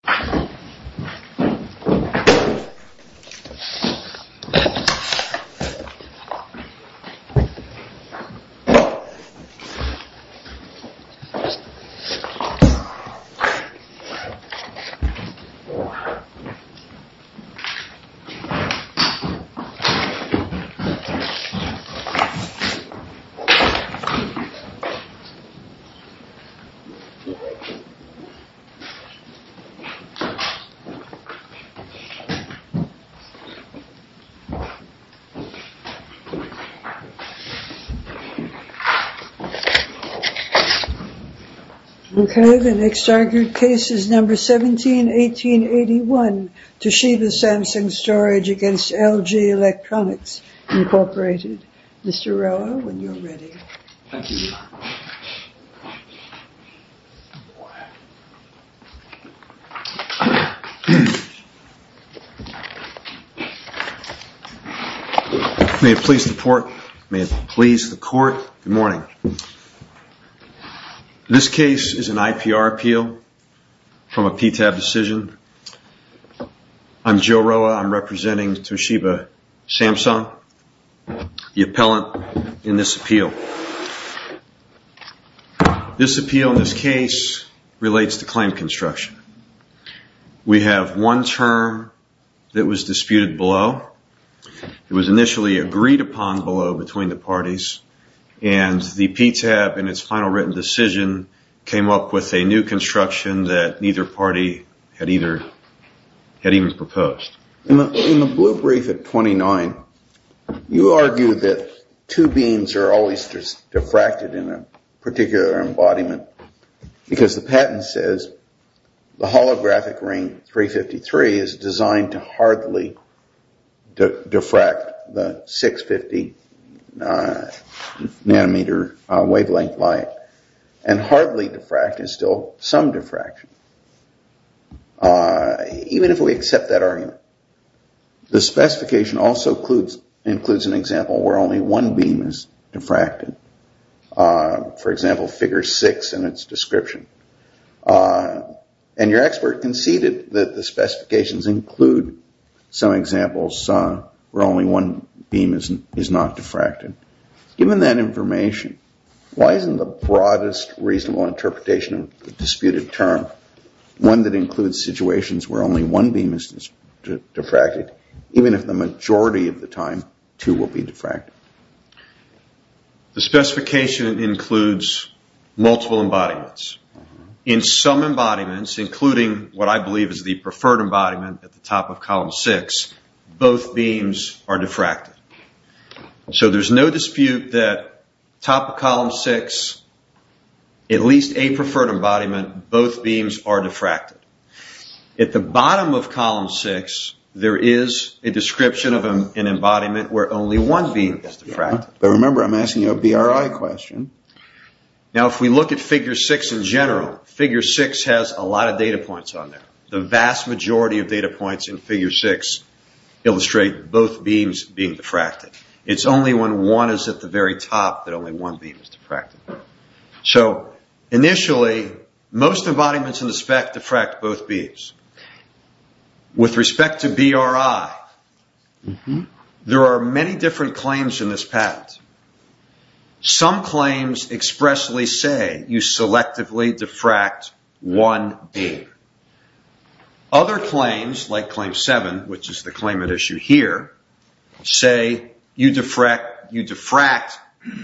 Toshiba Samsung Storage v. LG Electronics, Inc. Okay, the next argued case is number 17, 1881. Toshiba Samsung Storage v. LG Electronics, Inc. Mr. Roa, when you're ready. May it please the court, good morning. This case is an IPR appeal from a PTAB decision. I'm Joe Roa, I'm representing Toshiba Samsung, the appellant in this appeal. This appeal in this case relates to claim construction. We have one term that was disputed below. It was initially agreed upon below between the parties, and the PTAB in its final written decision came up with a new construction that neither party had even proposed. In the blue brief at 29, you argue that two beams are always diffracted in a particular embodiment because the patent says the holographic ring 353 is designed to hardly diffract the 650 nanometer wavelength light and hardly diffract is still some diffraction. Even if we accept that argument, the specification also includes an example where only one beam is diffracted. For example, figure six in its description. And your expert conceded that the specifications include some examples where only one beam is not diffracted. Given that information, why isn't the broadest reasonable interpretation of the disputed term one that includes situations where only one beam is diffracted, even if the majority of the time two will be diffracted? The specification includes multiple embodiments. In some embodiments, including what I believe is the preferred embodiment at the top of column six, both beams are diffracted. So there's no dispute that top of column six, at least a preferred embodiment, both beams are diffracted. At the bottom of column six, there is a description of an embodiment where only one beam is diffracted. But remember, I'm asking you a BRI question. Now if we look at figure six in general, figure six has a lot of data points on there. The vast majority of data points in figure six illustrate both beams being diffracted. It's only when one is at the very top that only one beam is diffracted. So initially, most embodiments in the spec diffract both beams. With respect to BRI, there are many different claims in this patent. Some claims expressly say you selectively diffract one beam. Other claims, like claim seven, which is the claim at issue here, say you diffract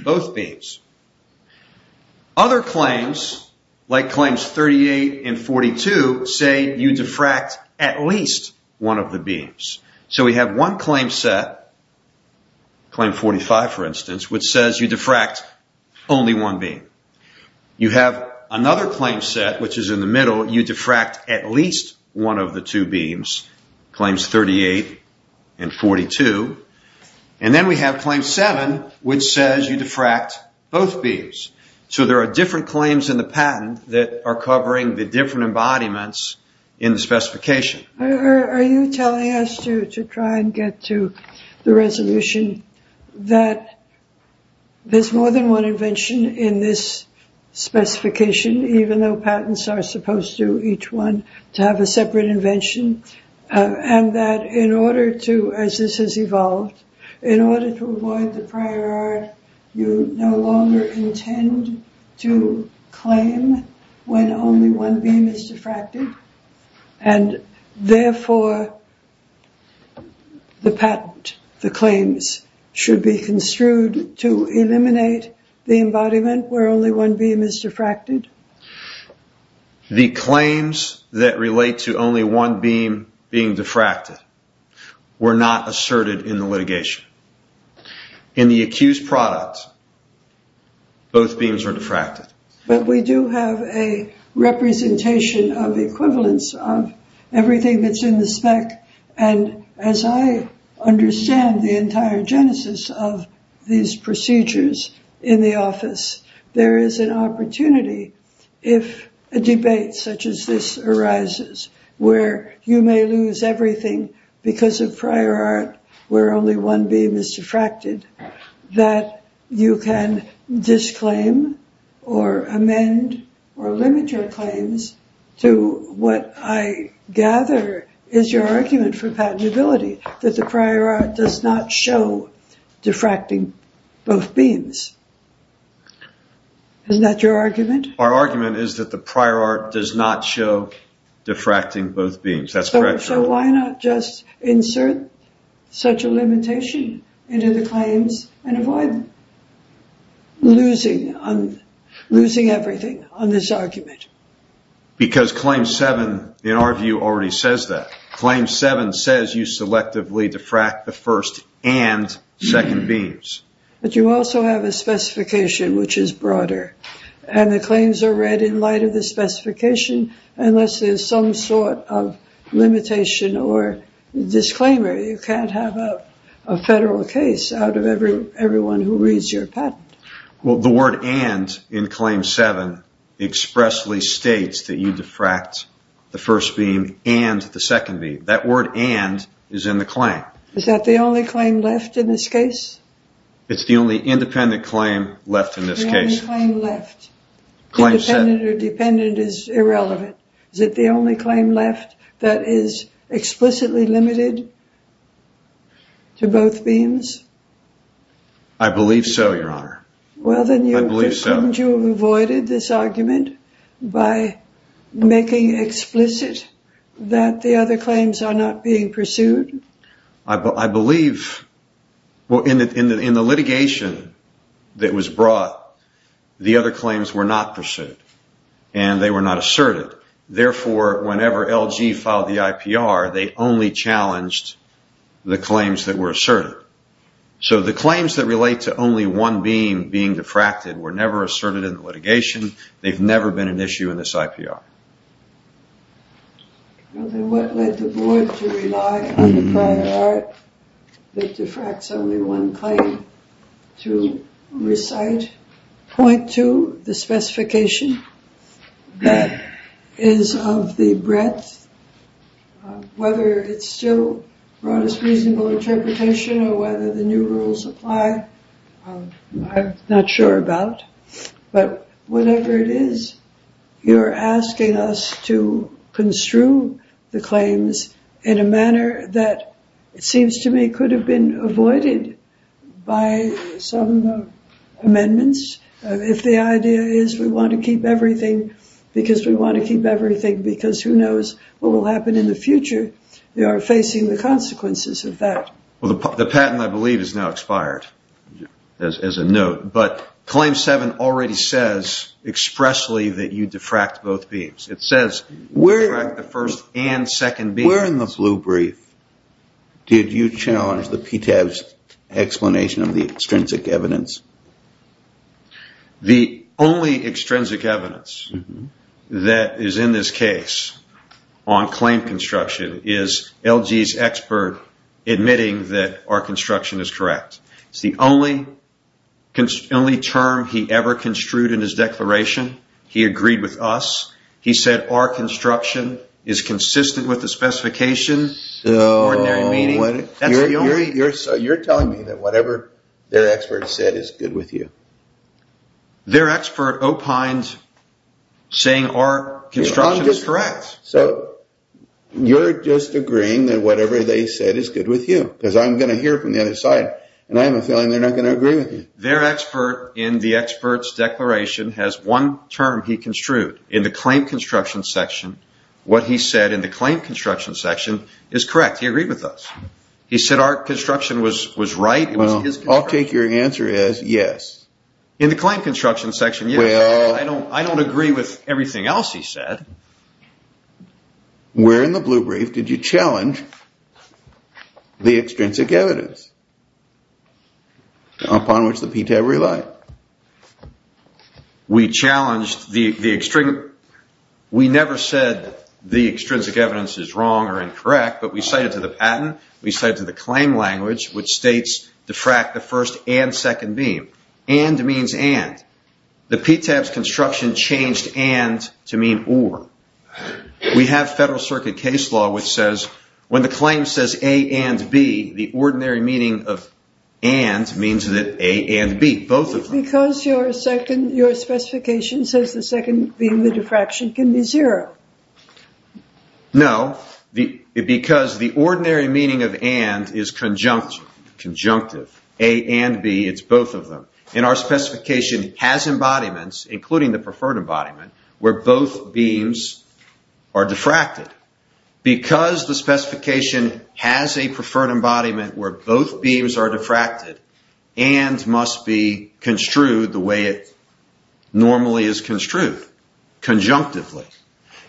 both beams. Other claims, like claims 38 and 42, say you diffract at least one of the beams. So we have one claim set, claim 45 for instance, which says you diffract only one beam. You have another claim set, which is in the middle, you diffract at least one of the two beams, claims 38 and 42. And then we have claim seven, which says you diffract both beams. So there are different claims in the patent that are covering the different embodiments in the specification. Are you telling us to try and get to the resolution that there's more than one invention in this specification, even though patents are supposed to each one to have a separate invention, and that in order to, as this has evolved, in order to avoid the prior art, you no longer intend to claim when only one beam is diffracted, and therefore the patent, the claims, should be construed to eliminate the embodiment where only one beam is diffracted? The claims that relate to only one beam being diffracted were not asserted in the litigation. In the accused product, both beams are diffracted. But we do have a representation of equivalence of everything that's in the spec, and as I understand the entire genesis of these procedures in the office, there is an opportunity, if a debate such as this arises, where you may lose everything because of prior art where only one beam is diffracted, that you can disclaim or amend or limit your claims to what I gather is your argument for patentability, that the prior art does not show diffracting both beams. Isn't that your argument? Our argument is that the prior art does not show diffracting both beams. That's correct. So why not just insert such a limitation into the claims and avoid losing everything on this argument? Because Claim 7, in our view, already says that. Claim 7 says you selectively diffract the first and second beams. But you also have a specification which is broader, and the claims are read in light of the specification unless there's some sort of limitation or disclaimer. You can't have a federal case out of everyone who reads your patent. Well, the word and in Claim 7 expressly states that you diffract the first beam and the second beam. That word and is in the claim. Is that the only claim left in this case? It's the only independent claim left in this case. The only claim left. Independent or dependent is irrelevant. Is it the only claim left that is explicitly limited to both beams? I believe so, Your Honor. Well, then couldn't you have avoided this argument by making explicit that the other claims are not being pursued? I believe in the litigation that was brought, the other claims were not pursued and they were not asserted. Therefore, whenever LG filed the IPR, they only challenged the claims that were asserted. So the claims that relate to only one beam being diffracted were never asserted in litigation. They've never been an issue in this IPR. Well, then what led the board to rely on the prior art that diffracts only one claim to recite? Point two, the specification that is of the breadth, whether it's still brought as reasonable interpretation or whether the new rules apply, I'm not sure about. But whatever it is, you're asking us to construe the claims in a manner that it seems to me could have been avoided by some amendments. If the idea is we want to keep everything because we want to keep everything, because who knows what will happen in the future, we are facing the consequences of that. Well, the patent, I believe, is now expired as a note. But Claim 7 already says expressly that you diffract both beams. It says we diffract the first and second beams. Where in the blue brief did you challenge the PTAB's explanation of the extrinsic evidence? The only extrinsic evidence that is in this case on claim construction is LG's expert admitting that our construction is correct. It's the only term he ever construed in his declaration. He agreed with us. He said our construction is consistent with the specifications. You're telling me that whatever their expert said is good with you. Their expert opined saying our construction is correct. So you're just agreeing that whatever they said is good with you because I'm going to hear from the other side and I have a feeling they're not going to agree with you. Their expert in the expert's declaration has one term he construed in the claim construction section. What he said in the claim construction section is correct. He agreed with us. He said our construction was right. I'll take your answer as yes. In the claim construction section, yes. I don't agree with everything else he said. Where in the blue brief did you challenge the extrinsic evidence upon which the PTAB relied? We challenged the extrinsic evidence. We never said the extrinsic evidence is wrong or incorrect, but we cited to the patent. We cited to the claim language which states diffract the first and second beam. And means and. The PTAB's construction changed and to mean or. We have federal circuit case law which says when the claim says A and B, the ordinary meaning of and means that A and B. Both of them. Because your specification says the second beam, the diffraction, can be zero. No, because the ordinary meaning of and is conjunctive. A and B, it's both of them. And our specification has embodiments, including the preferred embodiment, where both beams are diffracted. Because the specification has a preferred embodiment where both beams are diffracted and must be construed the way it normally is construed, conjunctively.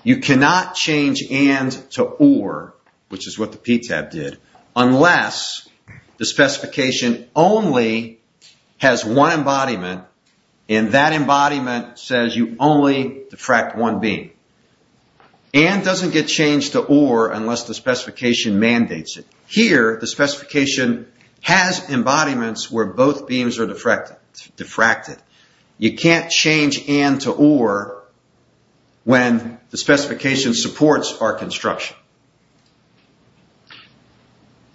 You cannot change and to or, which is what the PTAB did, unless the specification only has one embodiment and that embodiment says you only diffract one beam. And doesn't get changed to or unless the specification mandates it. Here, the specification has embodiments where both beams are diffracted. You can't change and to or when the specification supports our construction.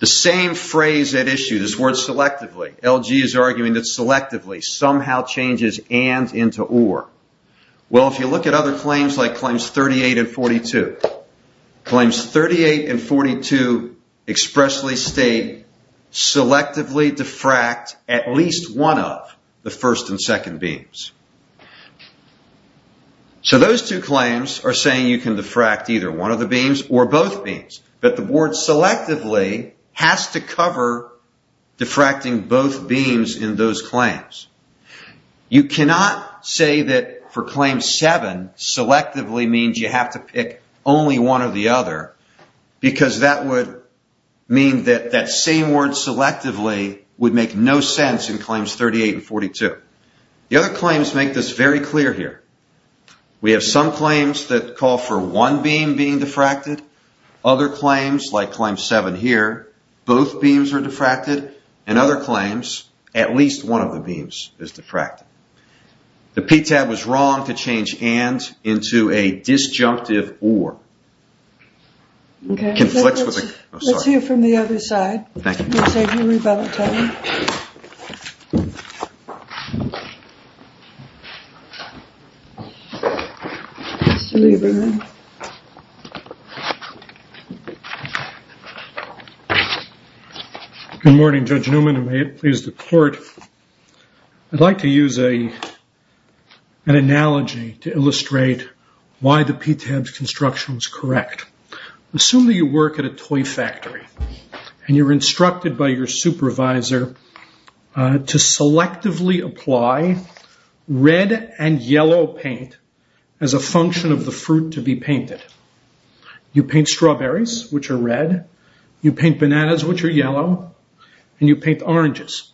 The same phrase at issue, this word selectively, LG is arguing that selectively somehow changes and into or. Well, if you look at other claims like claims 38 and 42. Claims 38 and 42 expressly state selectively diffract at least one of the first and second beams. So those two claims are saying you can diffract either one of the beams or both beams. But the board selectively has to cover diffracting both beams in those claims. You cannot say that for claim 7, selectively means you have to pick only one or the other. Because that would mean that that same word selectively would make no sense in claims 38 and 42. The other claims make this very clear here. We have some claims that call for one beam being diffracted. Other claims, like claim 7 here, both beams are diffracted. And other claims, at least one of the beams is diffracted. The PTAB was wrong to change and into a disjunctive or. Let's hear from the other side. Thank you. Good morning, Judge Newman, and may it please the court. I'd like to use an analogy to illustrate why the PTAB's construction was correct. Assume that you work at a toy factory. And you're instructed by your supervisor to selectively apply red and yellow paint as a function of the fruit to be painted. You paint strawberries, which are red. You paint bananas, which are yellow. And you paint oranges.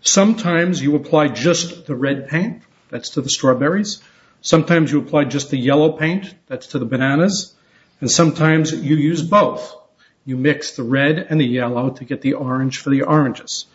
Sometimes you apply just the red paint. That's to the strawberries. Sometimes you apply just the yellow paint. That's to the bananas. And sometimes you use both. You mix the red and the yellow to get the orange for the oranges.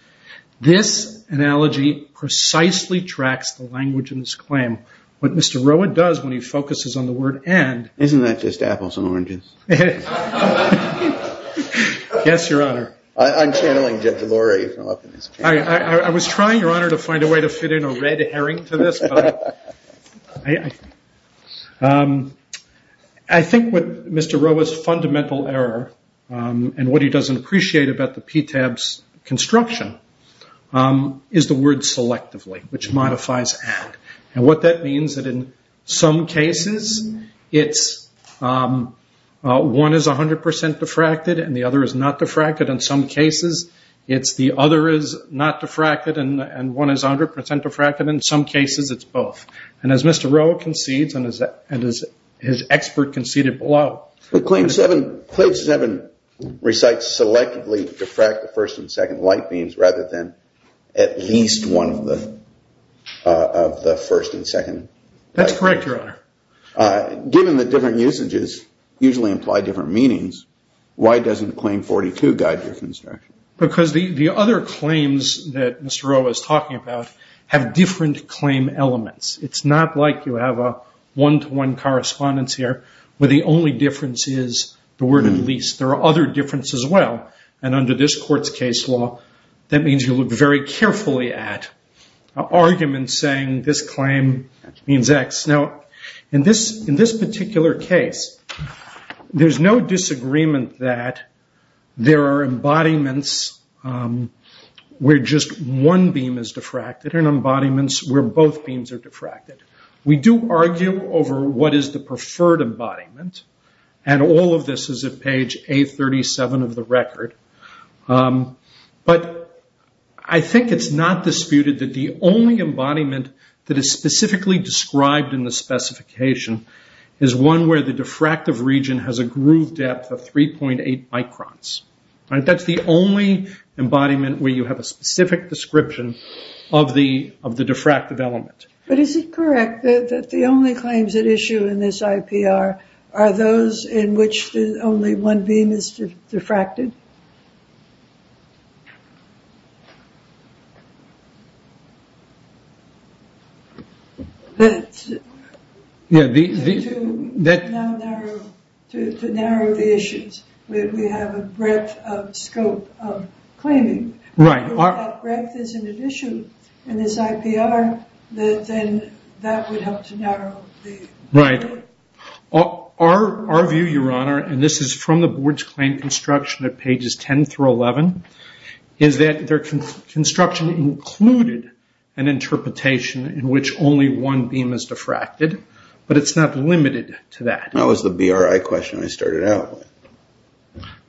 This analogy precisely tracks the language in this claim. What Mr. Roa does when he focuses on the word and. Isn't that just apples and oranges? Yes, Your Honor. I'm channeling Jeff DeLore from up in his chair. I was trying, Your Honor, to find a way to fit in a red herring to this. I think what Mr. Roa's fundamental error and what he doesn't appreciate about the PTAB's construction is the word selectively, which modifies and. And what that means is that in some cases, it's one is 100% diffracted and the other is not diffracted. In some cases, it's the other is not diffracted and one is 100% diffracted. In some cases, it's both. And as Mr. Roa concedes and as his expert conceded below. But Claim 7, Claim 7 recites selectively diffract the first and second light beams rather than at least one of the first and second. That's correct, Your Honor. Given the different usages usually imply different meanings, why doesn't Claim 42 guide your construction? Because the other claims that Mr. Roa is talking about have different claim elements. It's not like you have a one-to-one correspondence here where the only difference is the word at least. There are other differences as well. And under this court's case law, that means you look very carefully at arguments saying this claim means X. Now, in this particular case, there's no disagreement that there are embodiments where just one beam is diffracted and embodiments where both beams are diffracted. We do argue over what is the preferred embodiment. And all of this is at page A37 of the record. But I think it's not disputed that the only embodiment that is specifically described in the specification is one where the diffractive region has a groove depth of 3.8 microns. That's the only embodiment where you have a specific description of the diffractive element. But is it correct that the only claims at issue in this IPR are those in which only one beam is diffracted? To narrow the issues, we have a breadth of scope of claiming. If that breadth isn't an issue in this IPR, then that would help to narrow the issue. Right. Our view, Your Honor, and this is from the board's claim construction at pages 10 through 11, is that their construction included an interpretation in which only one beam is diffracted, but it's not limited to that. That was the BRI question I started out with.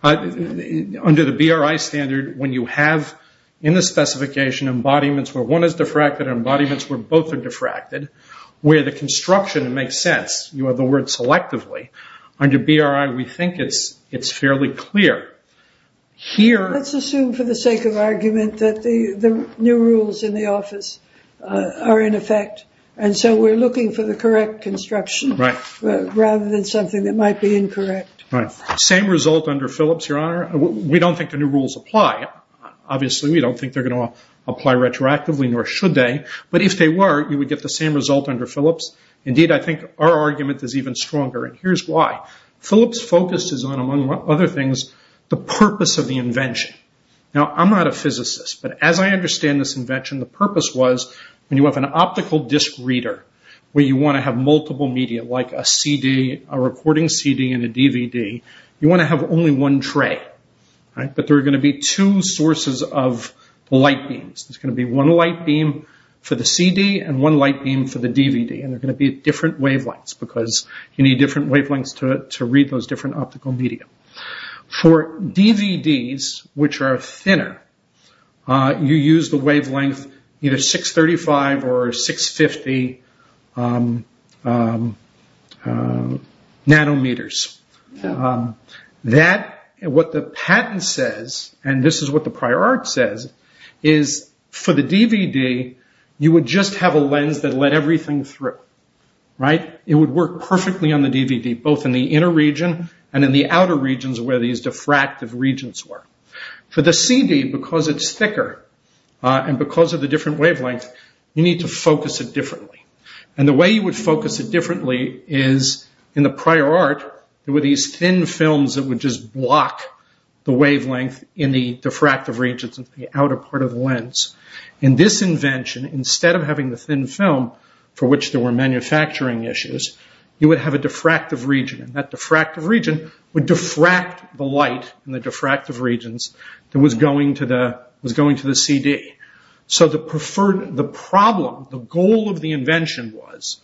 Under the BRI standard, when you have in the specification embodiments where one is diffracted and embodiments where both are diffracted, where the construction makes sense, you have the word selectively, under BRI we think it's fairly clear. Let's assume for the sake of argument that the new rules in the office are in effect, and so we're looking for the correct construction rather than something that might be incorrect. Same result under Philips, Your Honor. We don't think the new rules apply. Obviously, we don't think they're going to apply retroactively, nor should they, but if they were, you would get the same result under Philips. Indeed, I think our argument is even stronger, and here's why. Philips focuses on, among other things, the purpose of the invention. Now, I'm not a physicist, but as I understand this invention, the purpose was when you have an optical disc reader where you want to have multiple media, like a CD, a recording CD, and a DVD, you want to have only one tray, but there are going to be two sources of light beams. There's going to be one light beam for the CD and one light beam for the DVD, and they're going to be different wavelengths because you need different wavelengths to read those different optical media. For DVDs, which are thinner, you use the wavelength either 635 or 650 nanometers. What the patent says, and this is what the prior art says, is for the DVD, you would just have a lens that let everything through. It would work perfectly on the DVD, both in the inner region and in the outer regions where these diffractive regions were. For the CD, because it's thicker and because of the different wavelength, you need to focus it differently. The way you would focus it differently is, in the prior art, there were these thin films that would just block the wavelength in the diffractive regions of the outer part of the lens. In this invention, instead of having the thin film for which there were manufacturing issues, you would have a diffractive region, and that diffractive region would diffract the light in the diffractive regions that was going to the CD. The problem, the goal of the invention was,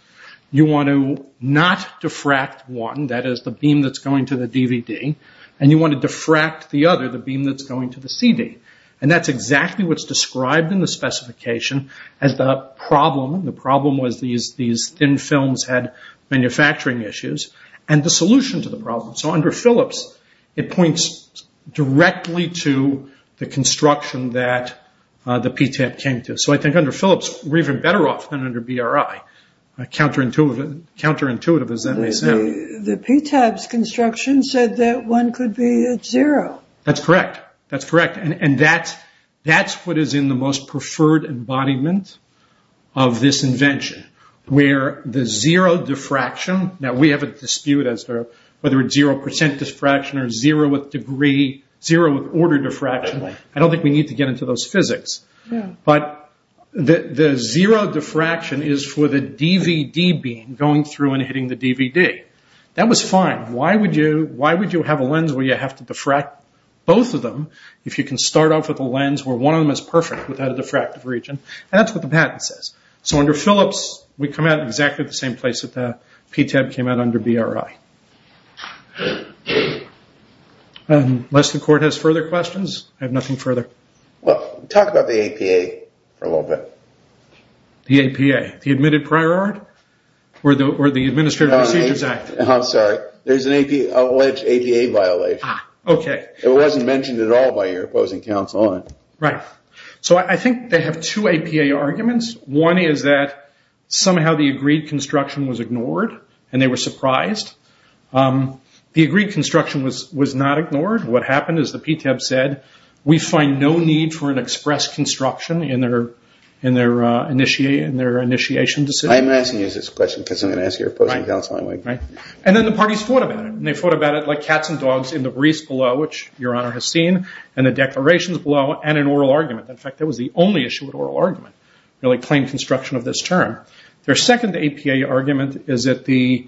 you want to not diffract one, that is the beam that's going to the DVD, and you want to diffract the other, the beam that's going to the CD. That's exactly what's described in the specification as the problem. The problem was these thin films had manufacturing issues, and the solution to the problem. Under Phillips, it points directly to the construction that the PTAB came to. I think under Phillips, we're even better off than under BRI, counterintuitive as that may sound. The PTAB's construction said that one could be at zero. That's correct. That's correct. That's what is in the most preferred embodiment of this invention, where the zero diffraction, now we have a dispute as to whether it's zero percent diffraction or zero with order diffraction. I don't think we need to get into those physics. The zero diffraction is for the DVD beam going through and hitting the DVD. That was fine. Why would you have a lens where you have to diffract both of them if you can start off with a lens where one of them is perfect without a diffractive region? That's what the patent says. Under Phillips, we come out exactly at the same place that the PTAB came out under BRI. Unless the court has further questions, I have nothing further. Talk about the APA for a little bit. The APA, the Admitted Prior Art or the Administrative Procedures Act? I'm sorry. There's an alleged APA violation. Okay. It wasn't mentioned at all by your opposing counsel on it. Right. I think they have two APA arguments. One is that somehow the agreed construction was ignored and they were surprised. The agreed construction was not ignored. What happened is the PTAB said, we find no need for an express construction in their initiation decision. I'm asking you this question because I'm going to ask your opposing counsel anyway. Right. Then the parties fought about it. They fought about it like cats and dogs in the breeze below, which your Honor has seen, and the declarations below, and an oral argument. In fact, that was the only issue with oral argument, plain construction of this term. Their second APA argument is that the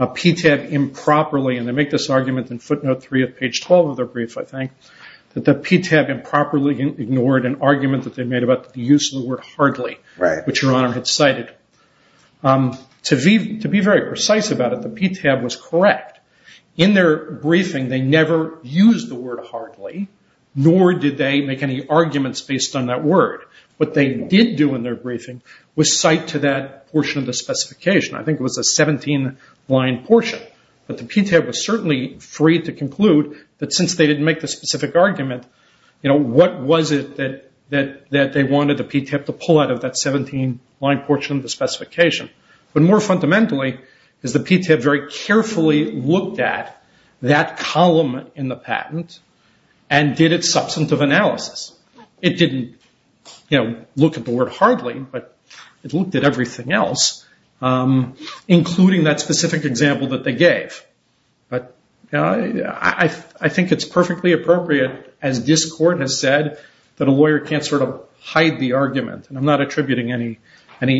PTAB improperly, and they make this argument in footnote three of page 12 of their brief, I think, that the PTAB improperly ignored an argument that they made about the use of the word hardly, which your Honor had cited. To be very precise about it, the PTAB was correct. In their briefing, they never used the word hardly, nor did they make any arguments based on that word. What they did do in their briefing was cite to that portion of the specification. I think it was a 17-line portion, but the PTAB was certainly free to conclude that since they didn't make the specific argument, what was it that they wanted the PTAB to pull out of that 17-line portion of the specification? More fundamentally is the PTAB very carefully looked at that column in the patent and did its substantive analysis. It didn't look at the word hardly, but it looked at everything else, including that specific example that they gave. I think it's perfectly appropriate, as this court has said, that a lawyer can't sort of hide the argument. I'm not attributing any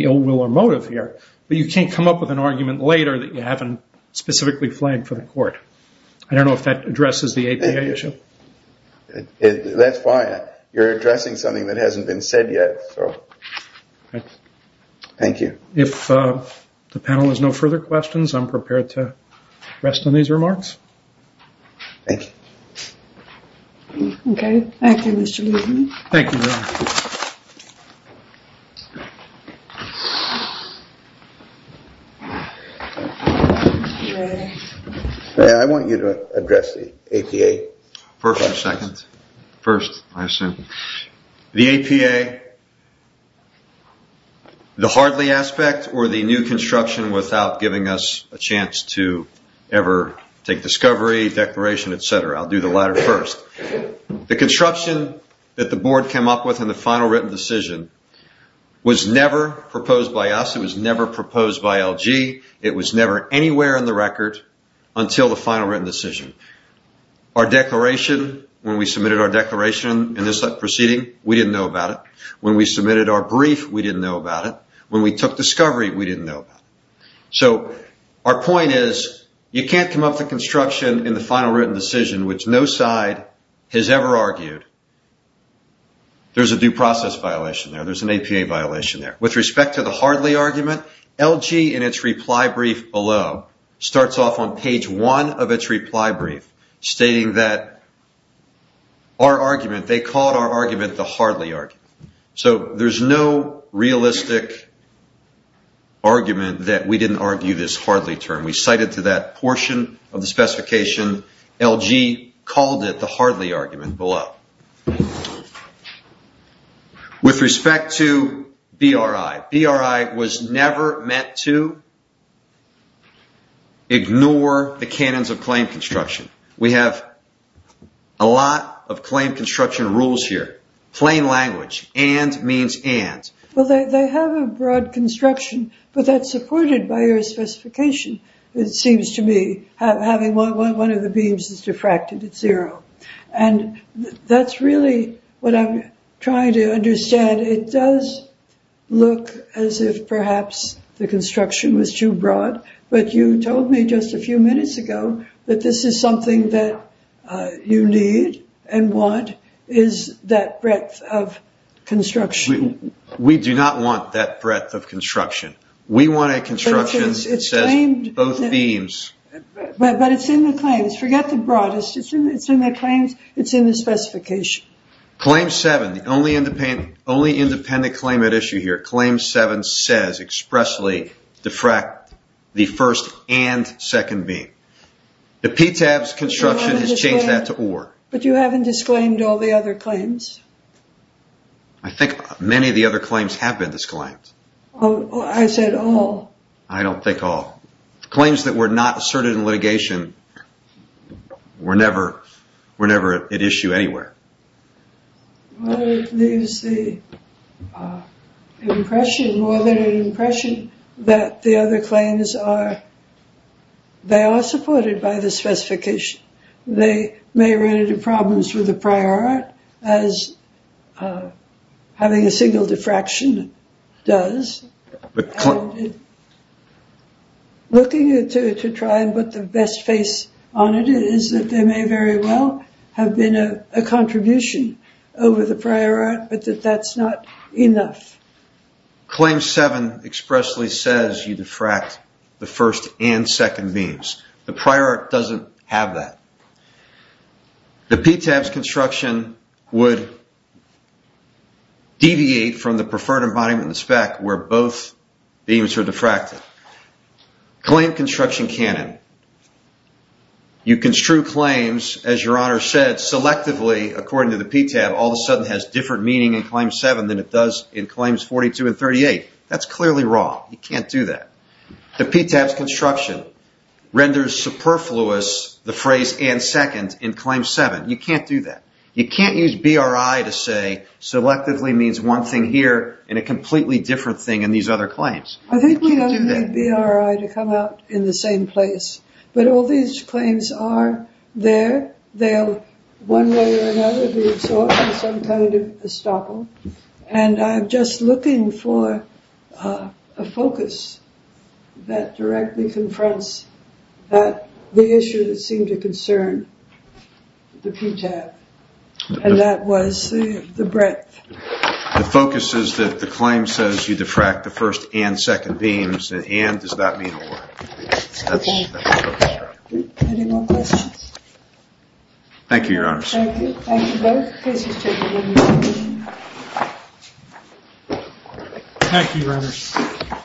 ill will or motive here, but you can't come up with an argument later that you haven't specifically flagged for the court. I don't know if that addresses the APA issue. That's fine. You're addressing something that hasn't been said yet. Thank you. If the panel has no further questions, I'm prepared to rest on these remarks. Thank you. I want you to address the APA. First or second? First, I assume. The APA, the hardly aspect or the new construction without giving us a chance to ever take discovery, declaration, et cetera. I'll do the latter first. The construction that the board came up with in the final written decision was never proposed by us. It was never proposed by LG. It was never anywhere in the record until the final written decision. Our declaration, when we submitted our declaration in this proceeding, we didn't know about it. When we submitted our brief, we didn't know about it. When we took discovery, we didn't know about it. So our point is you can't come up with a construction in the final written decision which no side has ever argued. There's a due process violation there. There's an APA violation there. With respect to the hardly argument, LG in its reply brief below starts off on page one of its reply brief stating that our argument, they called our argument the hardly argument. So there's no realistic argument that we didn't argue this hardly term. We cited to that portion of the specification LG called it the hardly argument below. With respect to BRI, BRI was never meant to ignore the canons of claim construction. We have a lot of claim construction rules here. Plain language, and means and. Well, they have a broad construction, but that's supported by your specification. It seems to me having one of the beams is diffracted at zero. That's really what I'm trying to understand. It does look as if perhaps the construction was too broad, but you told me just a few minutes ago that this is something that you need and want is that breadth of construction. We do not want that breadth of construction. We want a construction that says both beams. But it's in the claims. Forget the broadest. It's in the claims. It's in the specification. Claim seven, the only independent claim at issue here. Claim seven says expressly diffract the first and second beam. The PTAB's construction has changed that to or. But you haven't disclaimed all the other claims. I think many of the other claims have been disclaimed. I said all. I don't think all. Claims that were not asserted in litigation were never at issue anywhere. Well, it leaves the impression, more than an impression, that the other claims are supported by the specification. They may run into problems with the prior art, as having a single diffraction does. Looking to try and put the best face on it is that there may very well have been a contribution over the prior art, but that that's not enough. Claim seven expressly says you diffract the first and second beams. The prior art doesn't have that. The PTAB's construction would deviate from the preferred embodiment in the spec where both beams are diffracted. Claim construction canon. You construe claims, as Your Honor said, selectively, according to the PTAB, all of a sudden has different meaning in claim seven than it does in claims 42 and 38. That's clearly wrong. You can't do that. The PTAB's construction renders superfluous the phrase and second in claim seven. You can't do that. You can't use BRI to say selectively means one thing here and a completely different thing in these other claims. I think we need BRI to come out in the same place, but all these claims are there. They'll one way or another be absorbed in some kind of estoppel. And I'm just looking for a focus that directly confronts the issue that seemed to concern the PTAB. And that was the breadth. The focus is that the claim says you diffract the first and second beams. And does that mean or? Any more questions? Thank you, Your Honors. Thank you both. Thank you, Your Honors.